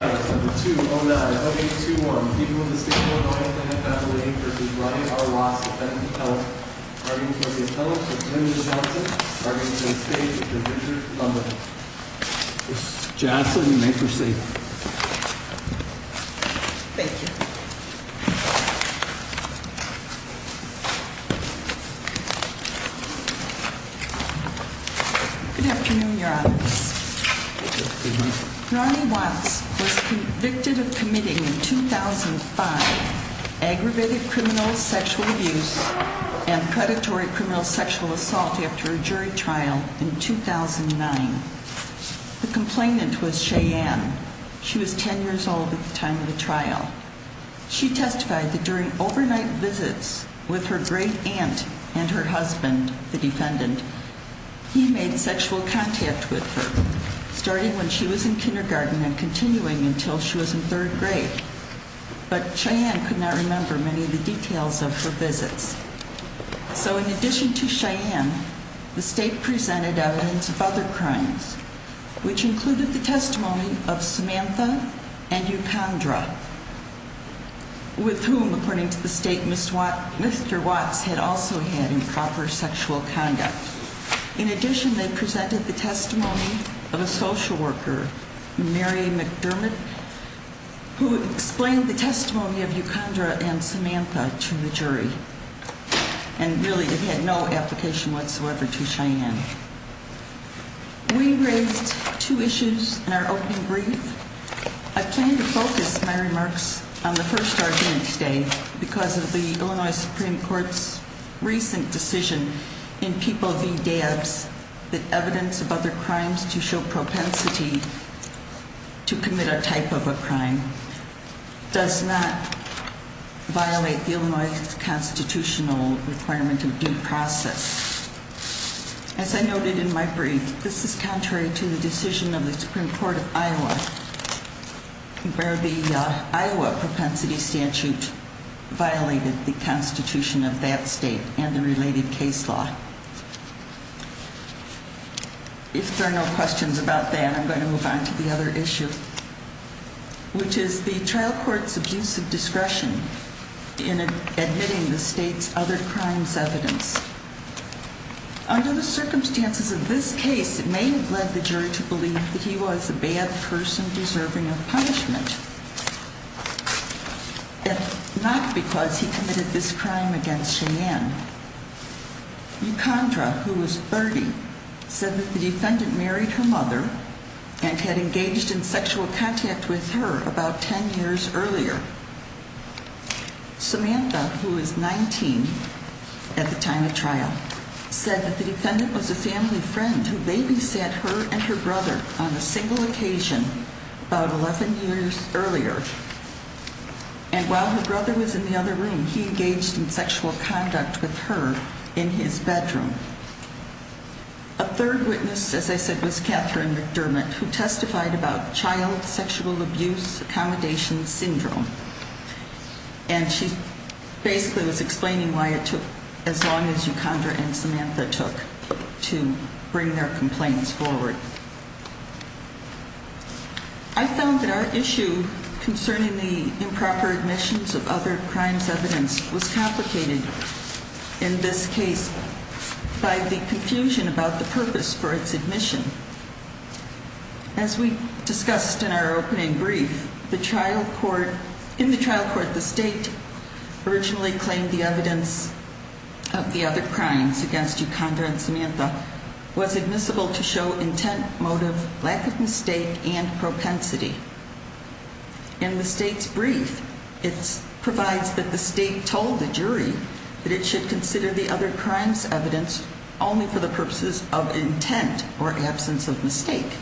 v. Wright v. Watts. Arguing for the appellate, Mr. Tim Johnson. Arguing for the state, Mr. Richard Cumberland. Ms. Jassa, you may proceed. Thank you. Good afternoon, Your Honors. Good afternoon. Ronnie Watts was convicted of committing in 2005 aggravated criminal sexual abuse and predatory criminal sexual assault after a jury trial in 2009. The complainant was Cheyenne. She was 10 years old at the time of the trial. She testified that during overnight visits with her great aunt and her husband, the defendant, he made sexual contact with her, starting when she was in kindergarten and continuing until she was in third grade. But Cheyenne could not remember many of the details of her visits. So in addition to Cheyenne, the state presented evidence of other crimes, which included the testimony of Samantha and Eucondra, with whom, according to the state, Mr. Watts had also had improper sexual conduct. In addition, they presented the testimony of a social worker, Mary McDermott, who explained the testimony of Eucondra and Samantha to the jury and really had no application whatsoever to Cheyenne. We raised two issues in our opening brief. I plan to focus my remarks on the first argument today because of the Illinois Supreme Court's recent decision in People v. DABS that evidence of other crimes to show propensity to commit a type of a crime does not violate the Illinois constitutional requirement of due process. As I noted in my brief, this is contrary to the decision of the Supreme Court of Iowa, where the Iowa propensity statute violated the constitution of that state and the related case law. If there are no questions about that, I'm going to move on to the other issue, which is the trial court's abuse of discretion in admitting the state's other crimes evidence. Under the circumstances of this case, it may have led the jury to believe that he was a bad person deserving of punishment, but not because he committed this crime against Cheyenne. Eucondra, who was 30, said that the defendant married her mother and had engaged in sexual contact with her about 10 years earlier. Samantha, who was 19 at the time of trial, said that the defendant was a family friend who babysat her and her brother on a single occasion about 11 years earlier. And while her brother was in the other room, he engaged in sexual conduct with her in his bedroom. A third witness, as I said, was Catherine McDermott, who testified about child sexual abuse accommodation syndrome. And she basically was explaining why it took as long as Eucondra and Samantha took to bring their complaints forward. I found that our issue concerning the improper admissions of other crimes evidence was complicated in this case by the confusion about the purpose for its admission. As we discussed in our opening brief, in the trial court, the state originally claimed the evidence of the other crimes against Eucondra and Samantha was admissible to show intent, motive, lack of mistake, and propensity. In the state's brief, it provides that the state told the jury that it should consider the other crimes evidence only for the purposes of intent or absence of mistake.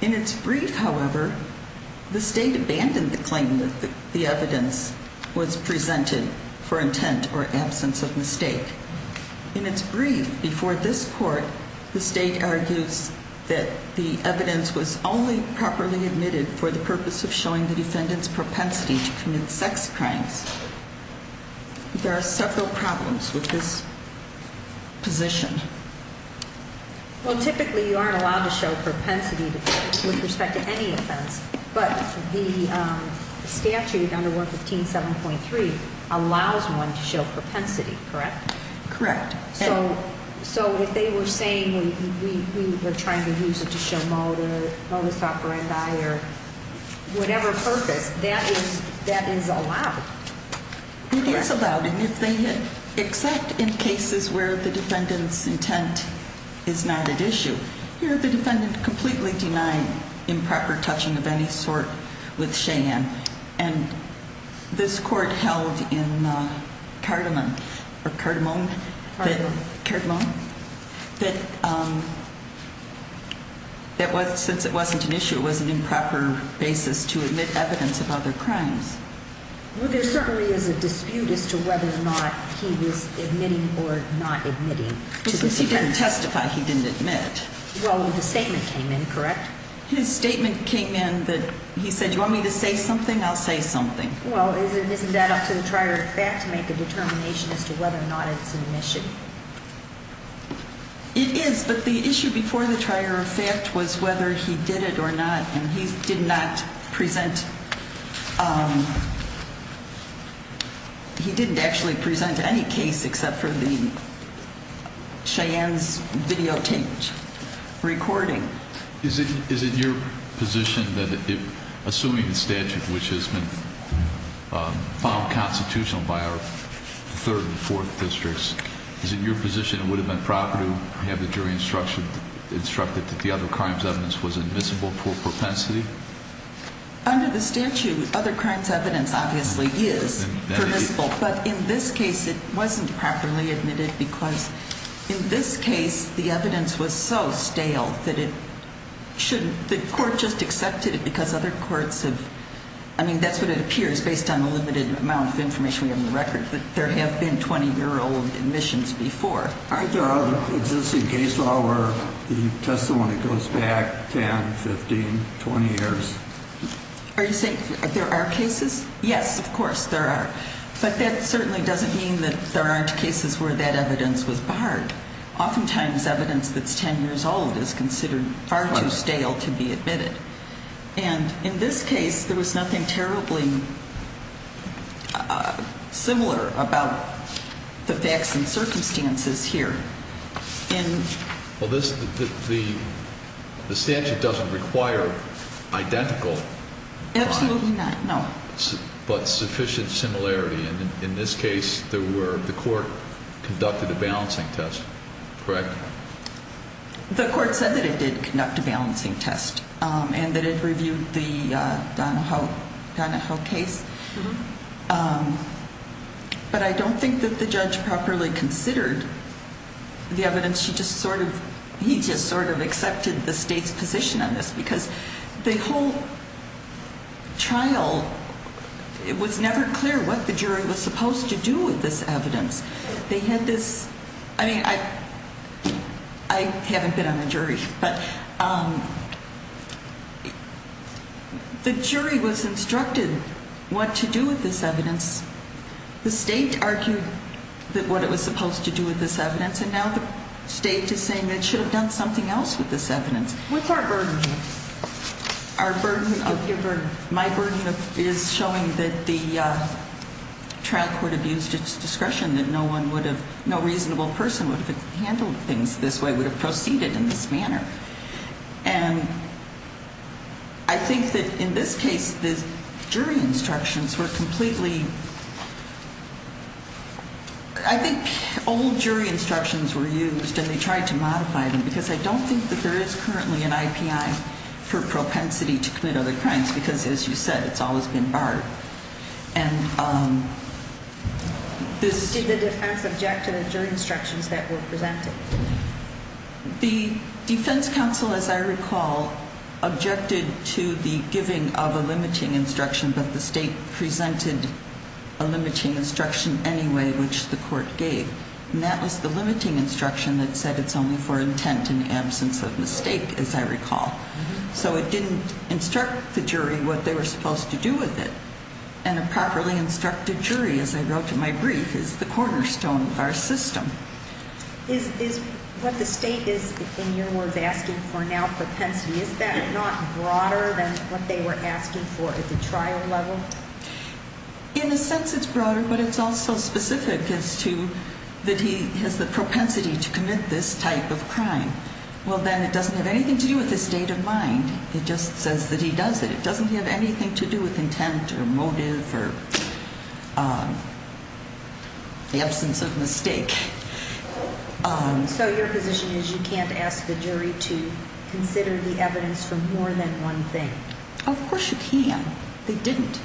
In its brief, however, the state abandoned the claim that the evidence was presented for intent or absence of mistake. In its brief before this court, the state argues that the evidence was only properly admitted for the purpose of showing the defendant's propensity to commit sex crimes. There are several problems with this position. Well, typically you aren't allowed to show propensity with respect to any offense, but the statute under 115.7.3 allows one to show propensity, correct? Correct. So if they were saying we were trying to use it to show motive, modus operandi, or whatever purpose, that is allowed? It is allowed, except in cases where the defendant's intent is not at issue. Here the defendant completely denied improper touching of any sort with Cheyenne. And this court held in Cardamon, or Cardamone? Cardamon. Cardamon, that since it wasn't an issue, it was an improper basis to admit evidence of other crimes. Well, there certainly is a dispute as to whether or not he was admitting or not admitting to this offense. Because he didn't testify, he didn't admit. Well, the statement came in, correct? His statement came in that he said, do you want me to say something? I'll say something. Well, isn't that up to the trier of fact to make a determination as to whether or not it's an admission? It is, but the issue before the trier of fact was whether he did it or not. And he did not present, he didn't actually present any case except for the Cheyenne's videotaped recording. Is it your position that assuming the statute which has been found constitutional by our third and fourth districts, is it your position it would have been proper to have the jury instructed that the other crimes evidence was admissible for propensity? Under the statute, other crimes evidence obviously is permissible. But in this case it wasn't properly admitted because in this case the evidence was so stale that it shouldn't, the court just accepted it because other courts have, I mean that's what it appears based on the limited amount of information we have in the record, that there have been 20 year old admissions before. Aren't there other existing case law where the testimony goes back 10, 15, 20 years? Are you saying there are cases? Yes, of course there are. But that certainly doesn't mean that there aren't cases where that evidence was barred. Oftentimes evidence that's 10 years old is considered far too stale to be admitted. And in this case there was nothing terribly similar about the facts and circumstances here. Well the statute doesn't require identical. Absolutely not, no. But sufficient similarity and in this case the court conducted a balancing test, correct? The court said that it did conduct a balancing test and that it reviewed the Donahoe case. But I don't think that the judge properly considered the evidence. He just sort of accepted the state's position on this because the whole trial, it was never clear what the jury was supposed to do with this evidence. They had this, I mean I haven't been on the jury, but the jury was instructed what to do with this evidence. The state argued what it was supposed to do with this evidence and now the state is saying it should have done something else with this evidence. What's our burden here? My burden is showing that the trial court abused its discretion, that no reasonable person would have handled things this way, would have proceeded in this manner. And I think that in this case the jury instructions were completely, I think old jury instructions were used and they tried to modify them because I don't think that there is currently an IPI for propensity to commit other crimes because as you said it's always been barred. Did the defense object to the jury instructions that were presented? The defense counsel, as I recall, objected to the giving of a limiting instruction but the state presented a limiting instruction anyway which the court gave. And that was the limiting instruction that said it's only for intent in absence of mistake, as I recall. So it didn't instruct the jury what they were supposed to do with it. And a properly instructed jury, as I wrote in my brief, is the cornerstone of our system. Is what the state is, in your words, asking for now propensity, is that not broader than what they were asking for at the trial level? In a sense it's broader but it's also specific as to that he has the propensity to commit this type of crime. Well then it doesn't have anything to do with his state of mind. It just says that he does it. It doesn't have anything to do with intent or motive or the absence of mistake. So your position is you can't ask the jury to consider the evidence for more than one thing? Of course you can. They didn't.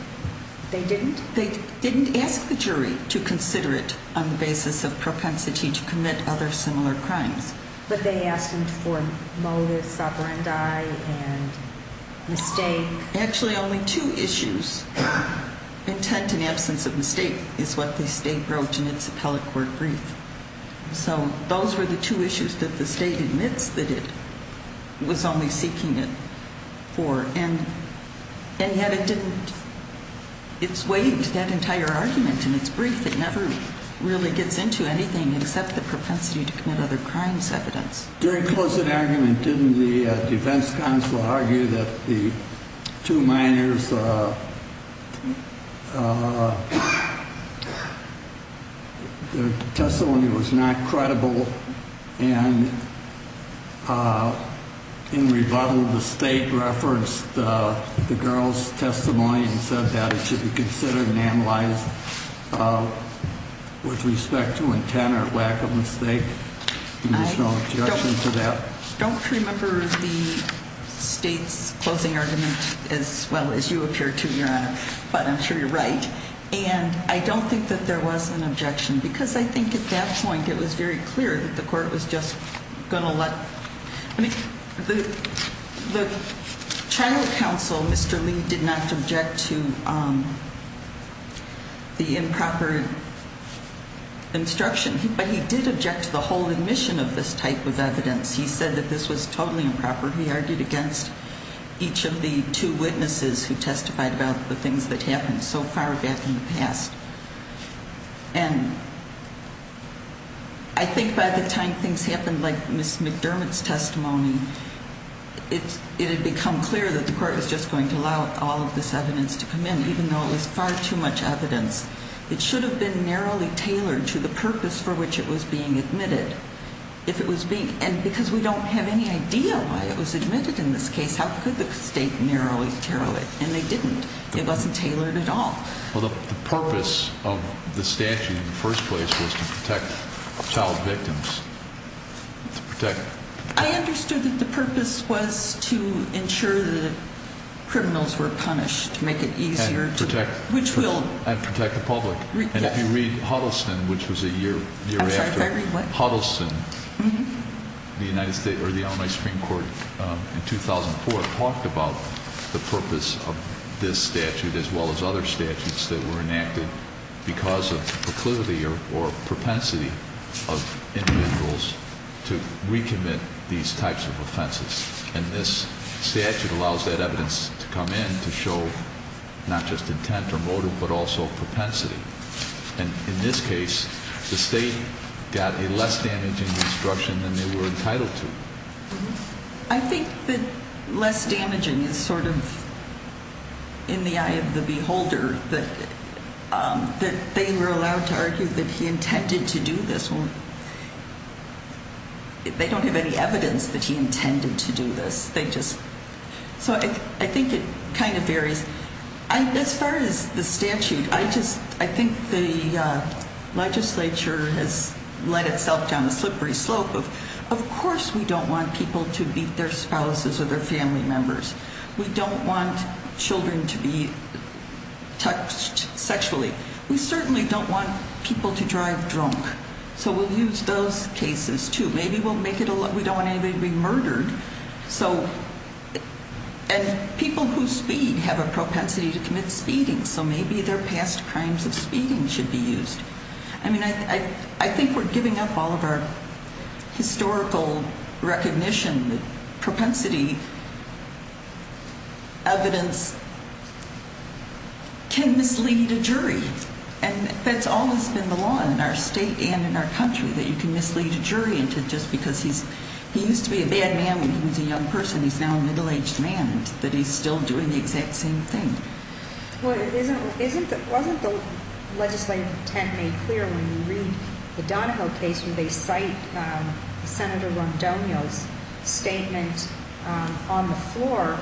They didn't? They didn't ask the jury to consider it on the basis of propensity to commit other similar crimes. But they asked him for motive, sovereignty, and mistake. Actually only two issues, intent and absence of mistake, is what the state wrote in its appellate court brief. So those were the two issues that the state admits that it was only seeking it for. And yet it didn't, it's way into that entire argument in its brief. It never really gets into anything except the propensity to commit other crimes evidence. During closing argument didn't the defense counsel argue that the two minors' testimony was not credible and in rebuttal the state referenced the girl's testimony and said that it should be considered and analyzed with respect to intent or lack of mistake? There's no objection to that? I don't remember the state's closing argument as well as you appear to, Your Honor, but I'm sure you're right. And I don't think that there was an objection because I think at that point it was very clear that the court was just going to let... The child counsel, Mr. Lee, did not object to the improper instruction, but he did object to the whole admission of this type of evidence. He said that this was totally improper. He argued against each of the two witnesses who testified about the things that happened so far back in the past. And I think by the time things happened like Ms. McDermott's testimony, it had become clear that the court was just going to allow all of this evidence to come in, even though it was far too much evidence. It should have been narrowly tailored to the purpose for which it was being admitted. And because we don't have any idea why it was admitted in this case, how could the state narrowly tailor it? And they didn't. It wasn't tailored at all. Well, the purpose of the statute in the first place was to protect child victims, to protect... I understood that the purpose was to ensure that criminals were punished, to make it easier to... And protect... Which will... And protect the public. And if you read Huddleston, which was a year after... I'm sorry, if I read what? Huddleston, the United States, or the Illinois Supreme Court, in 2004, talked about the purpose of this statute, as well as other statutes that were enacted because of proclivity or propensity of individuals to recommit these types of offenses. And this statute allows that evidence to come in to show not just intent or motive, but also propensity. And in this case, the state got a less damaging instruction than they were entitled to. I think that less damaging is sort of in the eye of the beholder, that they were allowed to argue that he intended to do this. They don't have any evidence that he intended to do this. They just... So I think it kind of varies. As far as the statute, I just... I think the legislature has led itself down a slippery slope of, of course we don't want people to beat their spouses or their family members. We don't want children to be touched sexually. We certainly don't want people to drive drunk. So we'll use those cases, too. Maybe we'll make it a lot... We don't want anybody to be murdered. And people who speed have a propensity to commit speeding, so maybe their past crimes of speeding should be used. I mean, I think we're giving up all of our historical recognition that propensity evidence can mislead a jury. And that's always been the law in our state and in our country, that you can mislead a jury into just because he used to be a bad man when he was a young person, he's now a middle-aged man, that he's still doing the exact same thing. Wasn't the legislative intent made clear when you read the Donahoe case when they cite Senator Rondonio's statement on the floor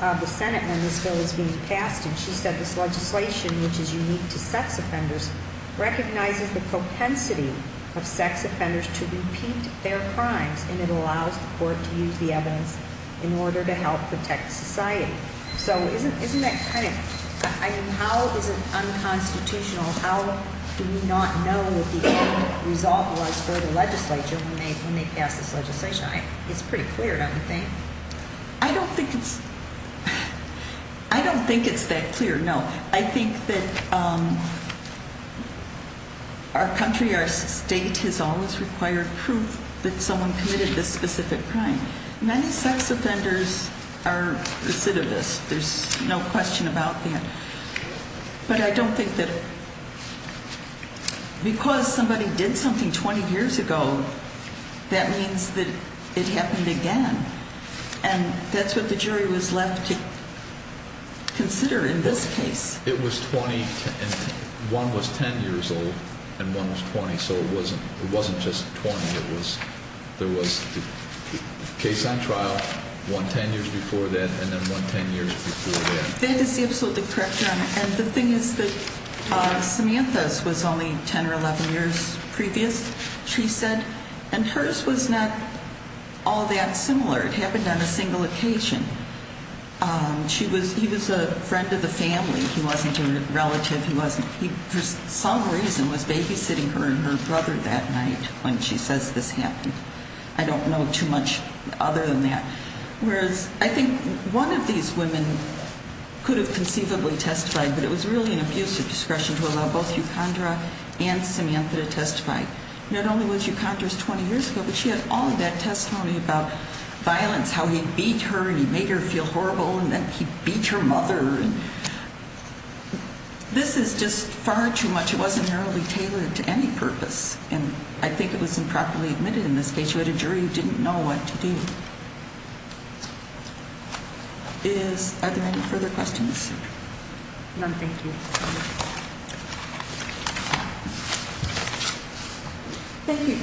of the Senate when this bill was being passed? And she said this legislation, which is unique to sex offenders, recognizes the propensity of sex offenders to repeat their crimes, and it allows the court to use the evidence in order to help protect society. So isn't that kind of... I mean, how is it unconstitutional? How do we not know what the end result was for the legislature when they pass this legislation? It's pretty clear, don't you think? I don't think it's... I don't think it's that clear, no. I think that our country, our state, has always required proof that someone committed this specific crime. Many sex offenders are recidivists. There's no question about that. But I don't think that because somebody did something 20 years ago, that means that it happened again. And that's what the jury was left to consider in this case. One was 10 years old and one was 20, so it wasn't just 20. There was a case on trial, one 10 years before that, and then one 10 years before that. That is absolutely correct, Your Honor. And the thing is that Samantha's was only 10 or 11 years previous, she said, and hers was not all that similar. It happened on a single occasion. She was... He was a friend of the family. He wasn't a relative. He wasn't... He, for some reason, was babysitting her and her brother that night when she says this happened. I don't know too much other than that. Whereas I think one of these women could have conceivably testified, but it was really an abuse of discretion to allow both Eucondra and Samantha to testify. Not only was Eucondra 20 years ago, but she had all of that testimony about violence, how he beat her and he made her feel horrible, and then he beat her mother. This is just far too much. It wasn't narrowly tailored to any purpose. And I think it was improperly admitted in this case. You had a jury who didn't know what to do. Are there any further questions? None. Thank you. Thank you,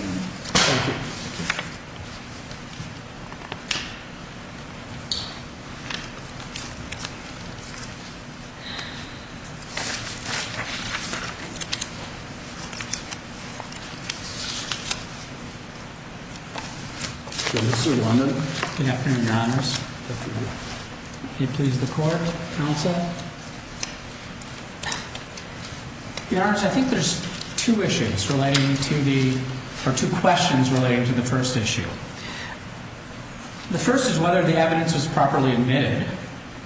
Your Honor. Thank you. Thank you. Good afternoon, Your Honor. Good afternoon, Your Honors. Good afternoon. Can you please record, counsel? Your Honor, I think there's two issues relating to the... or two questions relating to the first issue. The first is whether the evidence was properly admitted.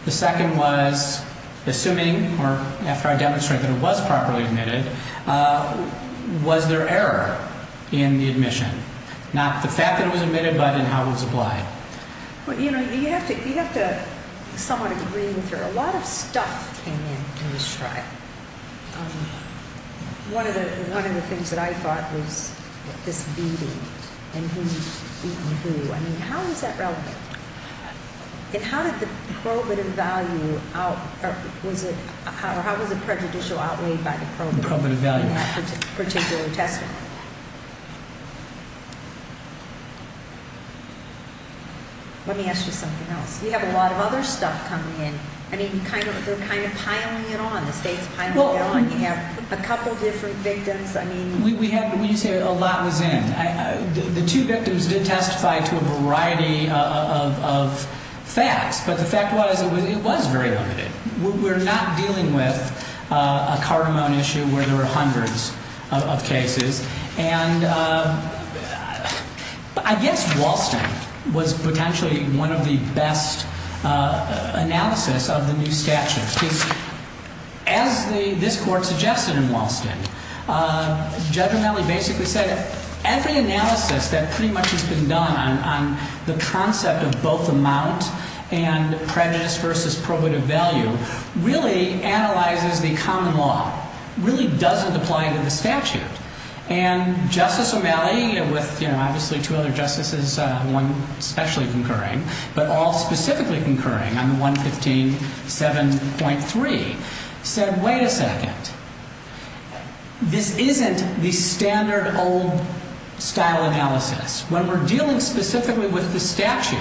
The second was, assuming, or after I demonstrate that it was properly admitted, was there error in the admission? Not the fact that it was admitted, but in how it was applied. Well, you know, you have to somewhat agree with her. A lot of stuff came in in this trial. One of the things that I thought was this beating and who's beating who. I mean, how is that relevant? And how did the probative value out... or how was it prejudicial outweighed by the probative value in that particular testimony? Let me ask you something else. You have a lot of other stuff coming in. I mean, you kind of... they're kind of piling it on. The State's piling it on. You have a couple different victims. I mean... We have... when you say a lot was in, the two victims did testify to a variety of facts. But the fact was, it was very limited. We're not dealing with a cardamom issue where there were hundreds of cases. And I guess Walston was potentially one of the best analysis of the new statute. Because as this Court suggested in Walston, Judge O'Malley basically said, every analysis that pretty much has been done on the concept of both amount and prejudice versus probative value, really analyzes the common law. Really doesn't apply to the statute. And Justice O'Malley, with obviously two other justices, one especially concurring, but all specifically concurring on the 115.7.3, said, wait a second. This isn't the standard old style analysis. When we're dealing specifically with the statute,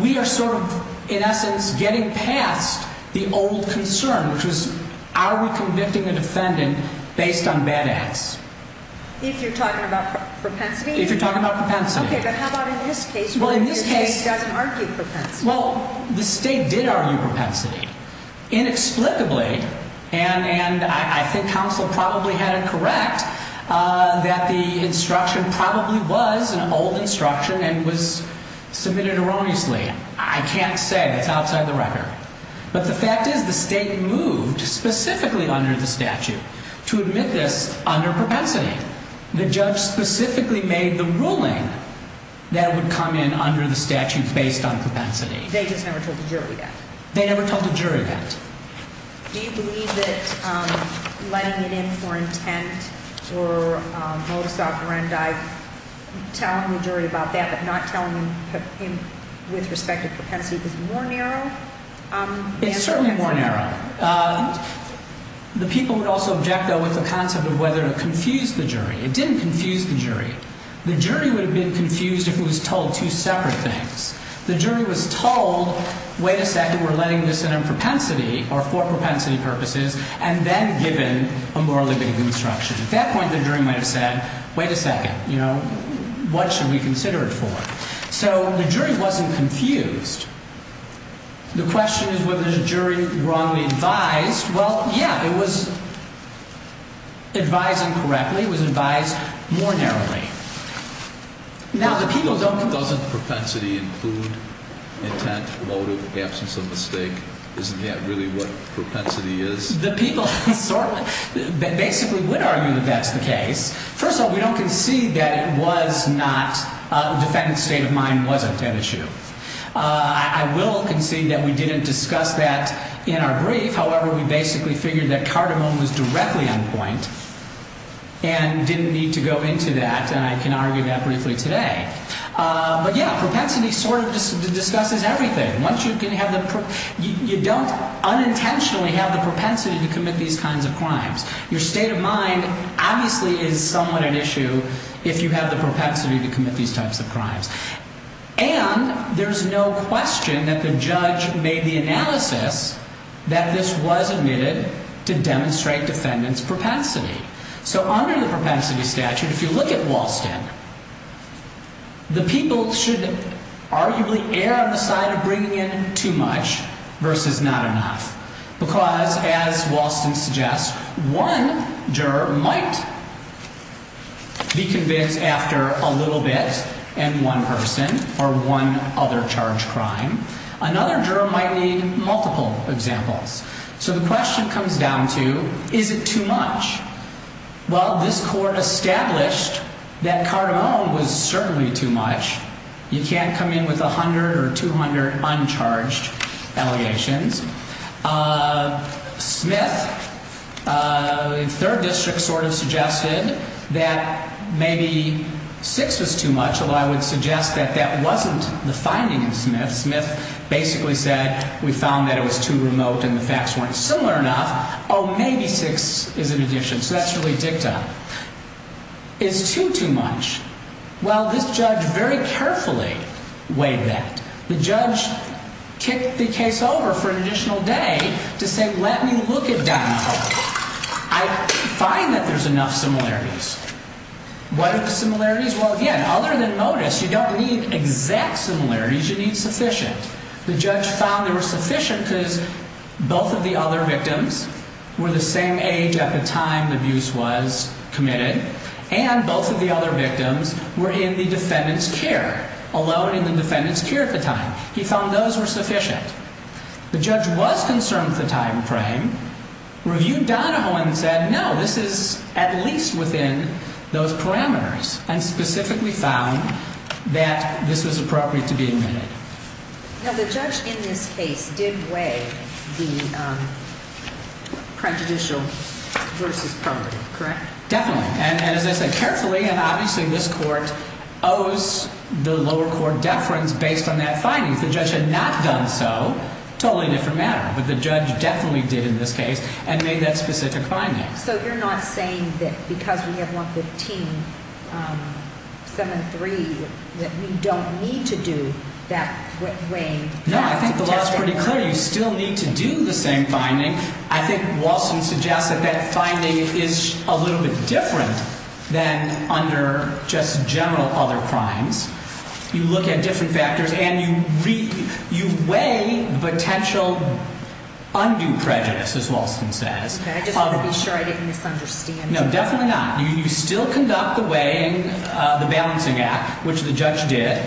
we are sort of, in essence, getting past the old concern, which was, are we convicting a defendant based on bad acts? If you're talking about propensity? If you're talking about propensity. Okay, but how about in this case? Well, in this case... The state doesn't argue propensity. Well, the state did argue propensity. Inexplicably, and I think counsel probably had it correct, that the instruction probably was an old instruction and was submitted erroneously. I can't say. That's outside the record. But the fact is, the state moved specifically under the statute to admit this under propensity. The judge specifically made the ruling that it would come in under the statute based on propensity. They just never told the jury that? They never told the jury that. Do you believe that letting it in for intent or modus operandi, telling the jury about that but not telling him with respect to propensity is more narrow? It's certainly more narrow. The people would also object, though, with the concept of whether it confused the jury. It didn't confuse the jury. The jury would have been confused if it was told two separate things. The jury was told, wait a second, we're letting this in on propensity or for propensity purposes, and then given a more limited instruction. At that point, the jury might have said, wait a second, what should we consider it for? So the jury wasn't confused. The question is whether the jury wrongly advised. Well, yeah, it was advised incorrectly. It was advised more narrowly. Now, the people don't... Doesn't propensity include intent, motive, absence of mistake? Isn't that really what propensity is? The people basically would argue that that's the case. First of all, we don't concede that it was not a defendant's state of mind wasn't an issue. I will concede that we didn't discuss that in our brief. However, we basically figured that Cardamom was directly on point and didn't need to go into that, and I can argue that briefly today. But yeah, propensity sort of discusses everything. You don't unintentionally have the propensity to commit these kinds of crimes. Your state of mind obviously is somewhat at issue if you have the propensity to commit these types of crimes. And there's no question that the judge made the analysis that this was admitted to demonstrate defendant's propensity. So under the propensity statute, if you look at Walston, the people should arguably err on the side of bringing in too much versus not enough. Because, as Walston suggests, one juror might be convinced after a little bit and one person or one other charged crime. Another juror might need multiple examples. So the question comes down to, is it too much? Well, this court established that Cardamom was certainly too much. You can't come in with 100 or 200 uncharged allegations. Smith, the third district sort of suggested that maybe six was too much, although I would suggest that that wasn't the finding of Smith. Smith basically said, we found that it was too remote and the facts weren't similar enough. Oh, maybe six is an addition. So that's really dicta. Is two too much? Well, this judge very carefully weighed that. The judge kicked the case over for an additional day to say, let me look at Donahoe. I find that there's enough similarities. What are the similarities? Well, again, other than modus, you don't need exact similarities. You need sufficient. The judge found there was sufficient because both of the other victims were the same age at the time the abuse was committed and both of the other victims were in the defendant's care, alone in the defendant's care at the time. He found those were sufficient. The judge was concerned with the time frame, reviewed Donahoe and said, no, this is at least within those parameters, and specifically found that this was appropriate to be admitted. Now, the judge in this case did weigh the prejudicial versus permanent, correct? Definitely. And as I said, carefully, and obviously this court owes the lower court deference based on that finding. If the judge had not done so, totally different matter. But the judge definitely did in this case and made that specific finding. So you're not saying that because we have 115-7-3 that we don't need to do that weighing? No, I think the law is pretty clear. You still need to do the same finding. I think Walston suggests that that finding is a little bit different than under just general other crimes. You look at different factors and you weigh potential undue prejudice, as Walston says. I just want to be sure I didn't misunderstand. No, definitely not. You still conduct the weighing, the balancing act, which the judge did.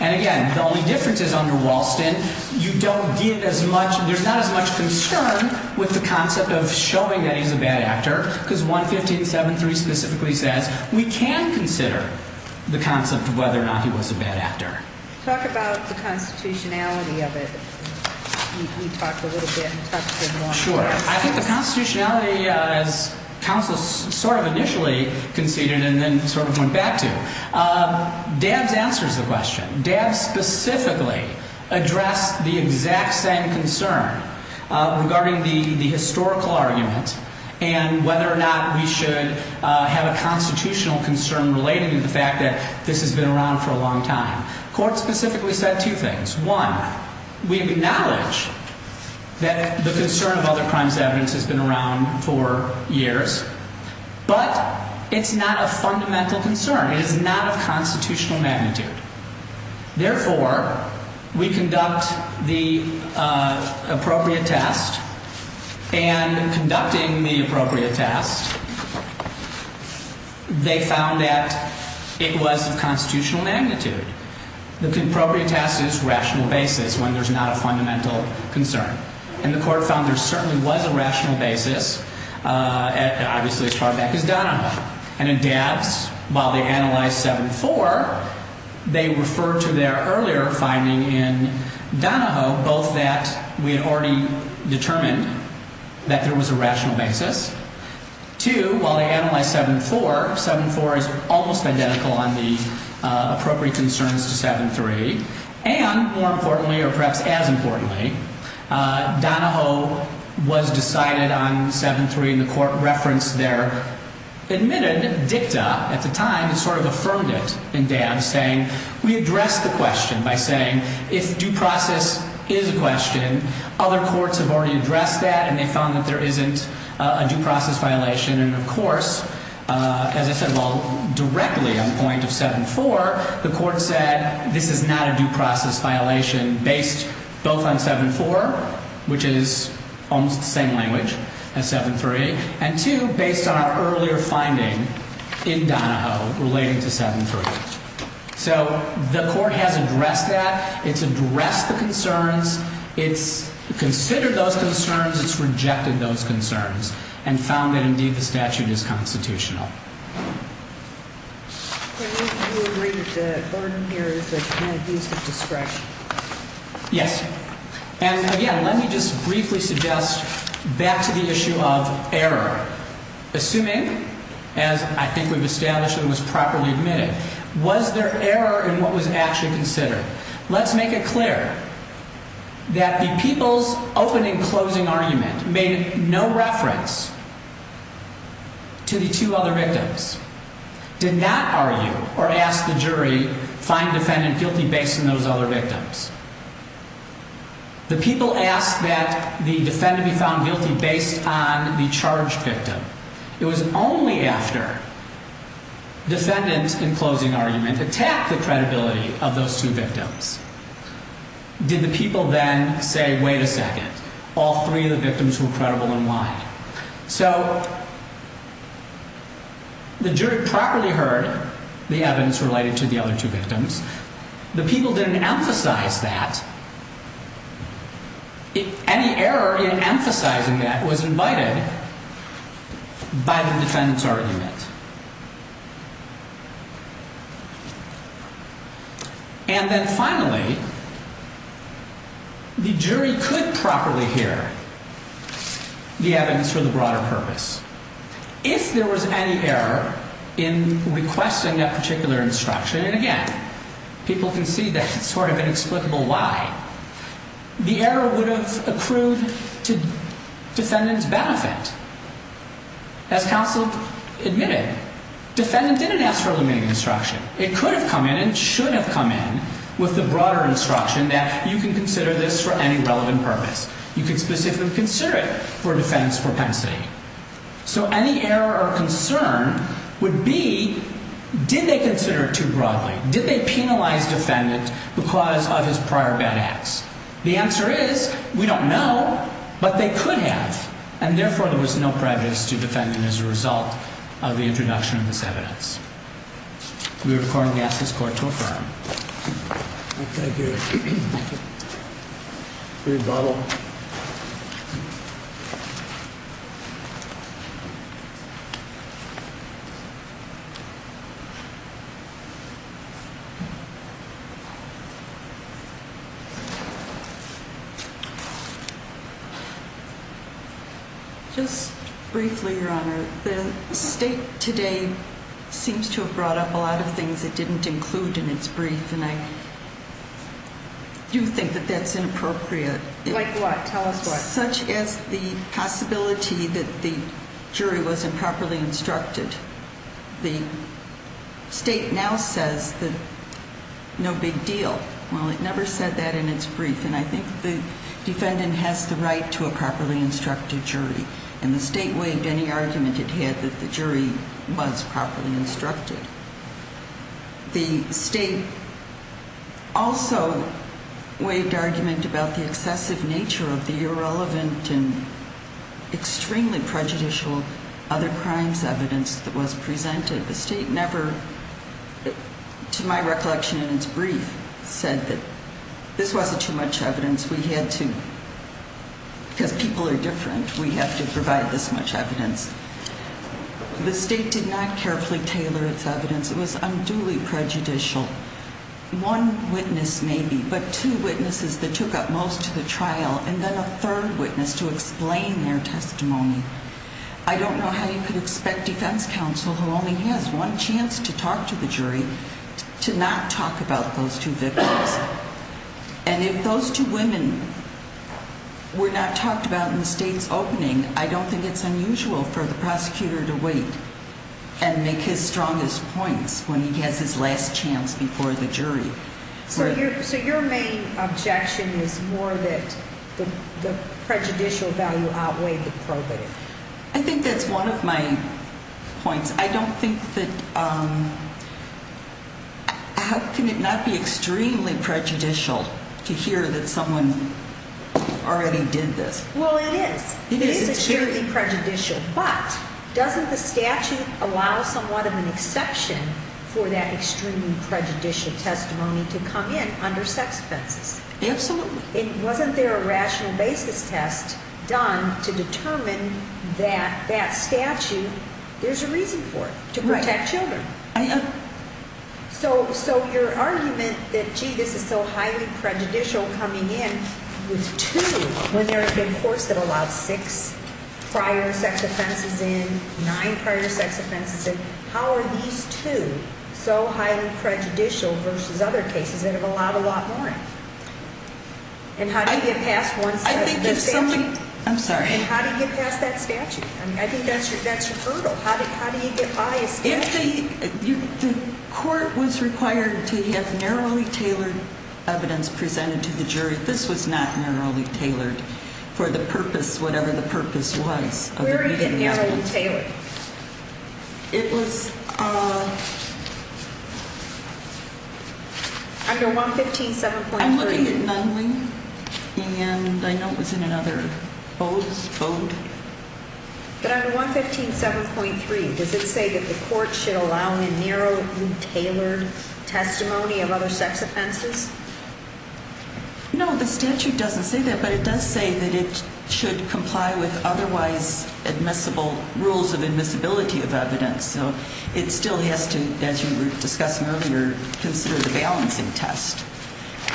And again, the only difference is under Walston, you don't get as much, there's not as much concern with the concept of showing that he's a bad actor, because 115-7-3 specifically says we can consider the concept of whether or not he was a bad actor. Talk about the constitutionality of it. You talked a little bit and touched it more. Sure. I think the constitutionality, as counsel sort of initially conceded and then sort of went back to, Dabbs answers the question. Dabbs specifically addressed the exact same concern regarding the historical argument and whether or not we should have a constitutional concern related to the fact that this has been around for a long time. Court specifically said two things. One, we acknowledge that the concern of other crimes evidence has been around for years, but it's not a fundamental concern. It is not of constitutional magnitude. Therefore, we conduct the appropriate test. And in conducting the appropriate test, they found that it was of constitutional magnitude. The appropriate test is rational basis when there's not a fundamental concern. And the court found there certainly was a rational basis, obviously as far back as Donahoe. And in Dabbs, while they analyzed 7-4, they referred to their earlier finding in Donahoe, both that we had already determined that there was a rational basis. Two, while they analyzed 7-4, 7-4 is almost identical on the appropriate concerns to 7-3. And more importantly, or perhaps as importantly, Donahoe was decided on 7-3, and the court referenced their admitted dicta at the time and sort of affirmed it in Dabbs, saying we addressed the question by saying if due process is a question, other courts have already addressed that and they found that there isn't a due process violation. And of course, as I said, well, directly on the point of 7-4, the court said this is not a due process violation based both on 7-4, which is almost the same language as 7-3, and two, based on our earlier finding in Donahoe relating to 7-3. So the court has addressed that. It's addressed the concerns. It's considered those concerns. It's rejected those concerns and found that, indeed, the statute is constitutional. Do you agree that the burden here is the kind of use of discretion? Yes. And again, let me just briefly suggest back to the issue of error. Assuming, as I think we've established and was properly admitted, was there error in what was actually considered? Let's make it clear that the people's open and closing argument made no reference to the two other victims, did not argue or ask the jury find defendant guilty based on those other victims. The people asked that the defendant be found guilty based on the charged victim. It was only after defendant in closing argument attacked the credibility of those two victims did the people then say, wait a second, all three of the victims were credible and why? So the jury properly heard the evidence related to the other two victims. The people didn't emphasize that. Any error in emphasizing that was invited by the defendant's argument. And then finally, the jury could properly hear the evidence for the broader purpose. If there was any error in requesting that particular instruction, and again, people can see that it's sort of inexplicable why, the error would have accrued to defendant's benefit. As counsel admitted, defendant didn't ask for a limiting instruction. It could have come in and should have come in with the broader instruction that you can consider this for any relevant purpose. You can specifically consider it for defendant's propensity. So any error or concern would be, did they consider it too broadly? Did they penalize defendant because of his prior bad acts? The answer is, we don't know, but they could have. And therefore, there was no prejudice to defendant as a result of the introduction of this evidence. We record and ask this court to affirm. Thank you. Just briefly, your honor. The state today seems to have brought up a lot of things it didn't include in its brief, and I do think that that's inappropriate. Like what? Tell us what. Such as the possibility that the jury wasn't properly instructed. The state now says that no big deal. Well, it never said that in its brief, and I think the defendant has the right to a properly instructed jury. And the state waived any argument it had that the jury was properly instructed. The state also waived argument about the excessive nature of the irrelevant and extremely prejudicial other crimes evidence that was presented. The state never, to my recollection in its brief, said that this wasn't too much evidence. Because people are different, we have to provide this much evidence. The state did not carefully tailor its evidence. It was unduly prejudicial. One witness, maybe, but two witnesses that took up most of the trial, and then a third witness to explain their testimony. I don't know how you could expect defense counsel, who only has one chance to talk to the jury, to not talk about those two victims. And if those two women were not talked about in the state's opening, I don't think it's unusual for the prosecutor to wait and make his strongest points when he has his last chance before the jury. So your main objection is more that the prejudicial value outweighed the probative. I think that's one of my points. I don't think that, how can it not be extremely prejudicial to hear that someone already did this? Well, it is. It is extremely prejudicial. But doesn't the statute allow somewhat of an exception for that extremely prejudicial testimony to come in under sex offenses? Absolutely. Wasn't there a rational basis test done to determine that that statute, there's a reason for it, to protect children? Right. So your argument that, gee, this is so highly prejudicial coming in with two, when there have been courts that allowed six prior sex offenses in, nine prior sex offenses in, how are these two so highly prejudicial versus other cases that have allowed a lot more? And how do you get past one side of the statute? I'm sorry. And how do you get past that statute? I think that's your hurdle. How do you get by a statute? If the court was required to have narrowly tailored evidence presented to the jury, this was not narrowly tailored for the purpose, whatever the purpose was. Where is it narrowly tailored? It was under 115.7.3. I'm looking at Nunley, and I know it was in another vote. But under 115.7.3, does it say that the court should allow a narrowly tailored testimony of other sex offenses? No, the statute doesn't say that, but it does say that it should comply with otherwise admissible rules of admissibility of evidence. So it still has to, as you were discussing earlier, consider the balancing test.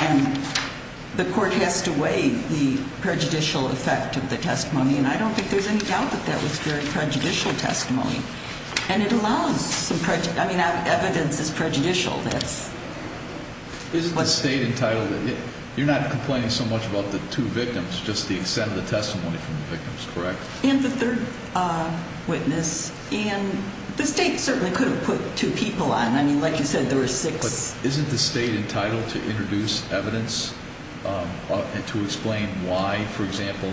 And the court has to weigh the prejudicial effect of the testimony, and I don't think there's any doubt that that was very prejudicial testimony. And it allows some, I mean, evidence is prejudicial. Isn't the state entitled, you're not complaining so much about the two victims, just the extent of the testimony from the victims, correct? And the third witness, and the state certainly could have put two people on. I mean, like you said, there were six. Isn't the state entitled to introduce evidence and to explain why, for example,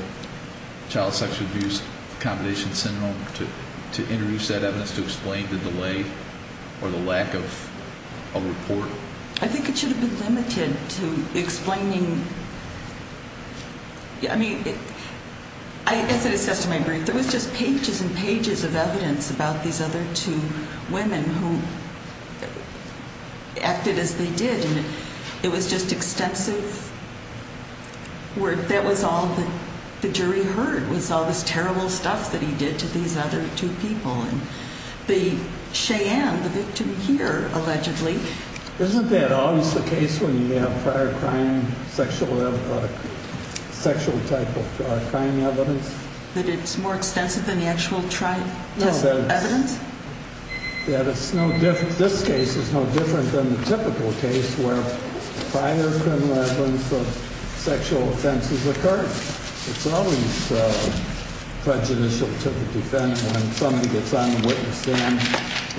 child sexual abuse, accommodation syndrome, to introduce that evidence to explain the delay or the lack of a report? I think it should have been limited to explaining. I mean, as I discussed in my brief, there was just pages and pages of evidence about these other two women who acted as they did. And it was just extensive work. That was all the jury heard was all this terrible stuff that he did to these other two people. The Cheyenne, the victim here, allegedly. Isn't that always the case when you have prior crime, sexual type of crime evidence? That it's more extensive than the actual trial evidence? Yeah, that's no different. This case is no different than the typical case where prior criminal evidence of sexual offenses occurred. It's always prejudicial to the defense when somebody gets on the witness stand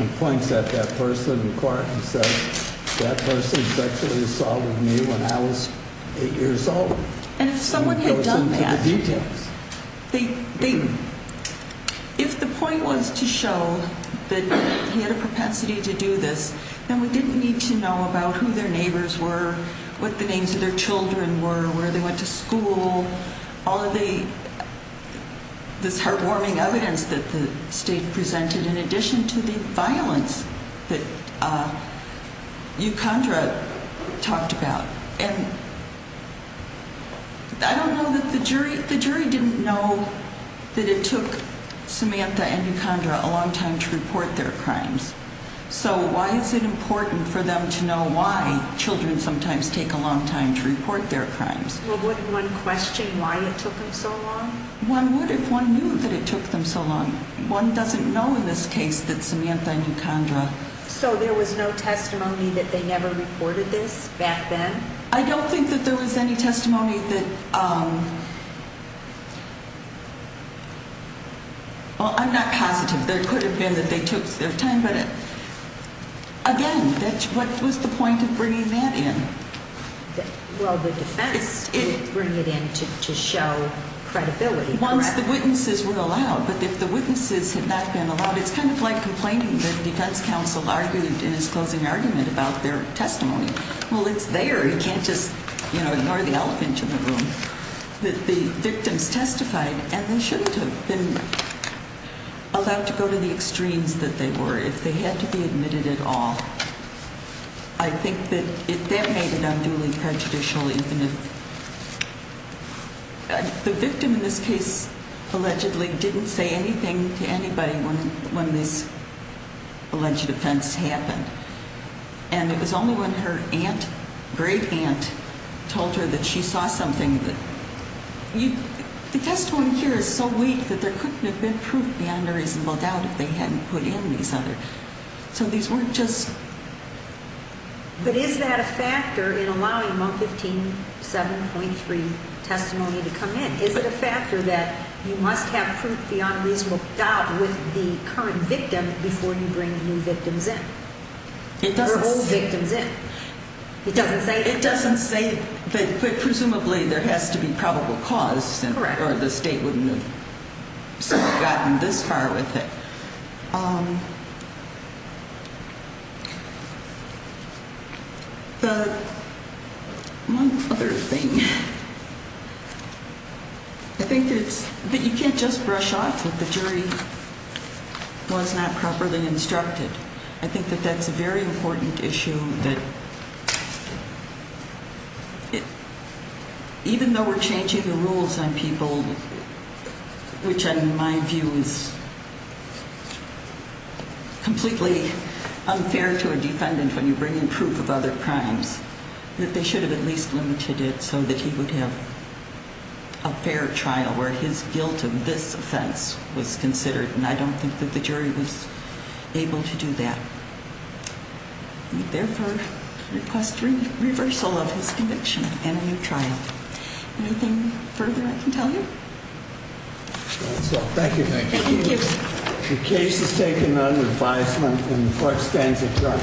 and points at that person in court and says, that person sexually assaulted me when I was eight years old. And if someone had done that, if the point was to show that he had a propensity to do this, then we didn't need to know about who their neighbors were, what the names of their children were, where they went to school. All of this heartwarming evidence that the state presented, in addition to the violence that you talked about. And I don't know that the jury, the jury didn't know that it took Samantha and you a long time to report their crimes. So why is it important for them to know why children sometimes take a long time to report their crimes? Well, wouldn't one question why it took them so long? One would if one knew that it took them so long. One doesn't know in this case that Samantha knew Condra. So there was no testimony that they never reported this back then? I don't think that there was any testimony that, well, I'm not positive. There could have been that they took their time, but again, what was the point of bringing that in? Well, the defense didn't bring it in to show credibility. Once the witnesses were allowed, but if the witnesses had not been allowed, it's kind of like complaining that the defense counsel argued in his closing argument about their testimony. Well, it's there. You can't just ignore the elephant in the room. The victims testified, and they shouldn't have been allowed to go to the extremes that they were if they had to be admitted at all. I think that that made it unduly prejudicial, even if the victim in this case allegedly didn't say anything to anybody when this alleged offense happened. And it was only when her aunt, great aunt, told her that she saw something. The testimony here is so weak that there couldn't have been proof beyond a reasonable doubt if they hadn't put in these others. So these weren't just... But is that a factor in allowing month 15, 7.3 testimony to come in? Is it a factor that you must have proof beyond a reasonable doubt with the current victim before you bring new victims in? It doesn't say... Or old victims in. It doesn't say that. It doesn't say that, but presumably there has to be probable cause. Correct. Or the state wouldn't have gotten this far with it. The... One other thing. I think there's... But you can't just brush off what the jury was not properly instructed. I think that that's a very important issue that... Even though we're changing the rules on people, which in my view is completely unfair to a defendant when you bring in proof of other crimes, that they should have at least limited it so that he would have a fair trial where his guilt of this offense was considered. And I don't think that the jury was able to do that. We therefore request reversal of his conviction and a new trial. Anything further I can tell you? That's all. Thank you. Thank you. The case is taken under five minutes and the court stands adjourned.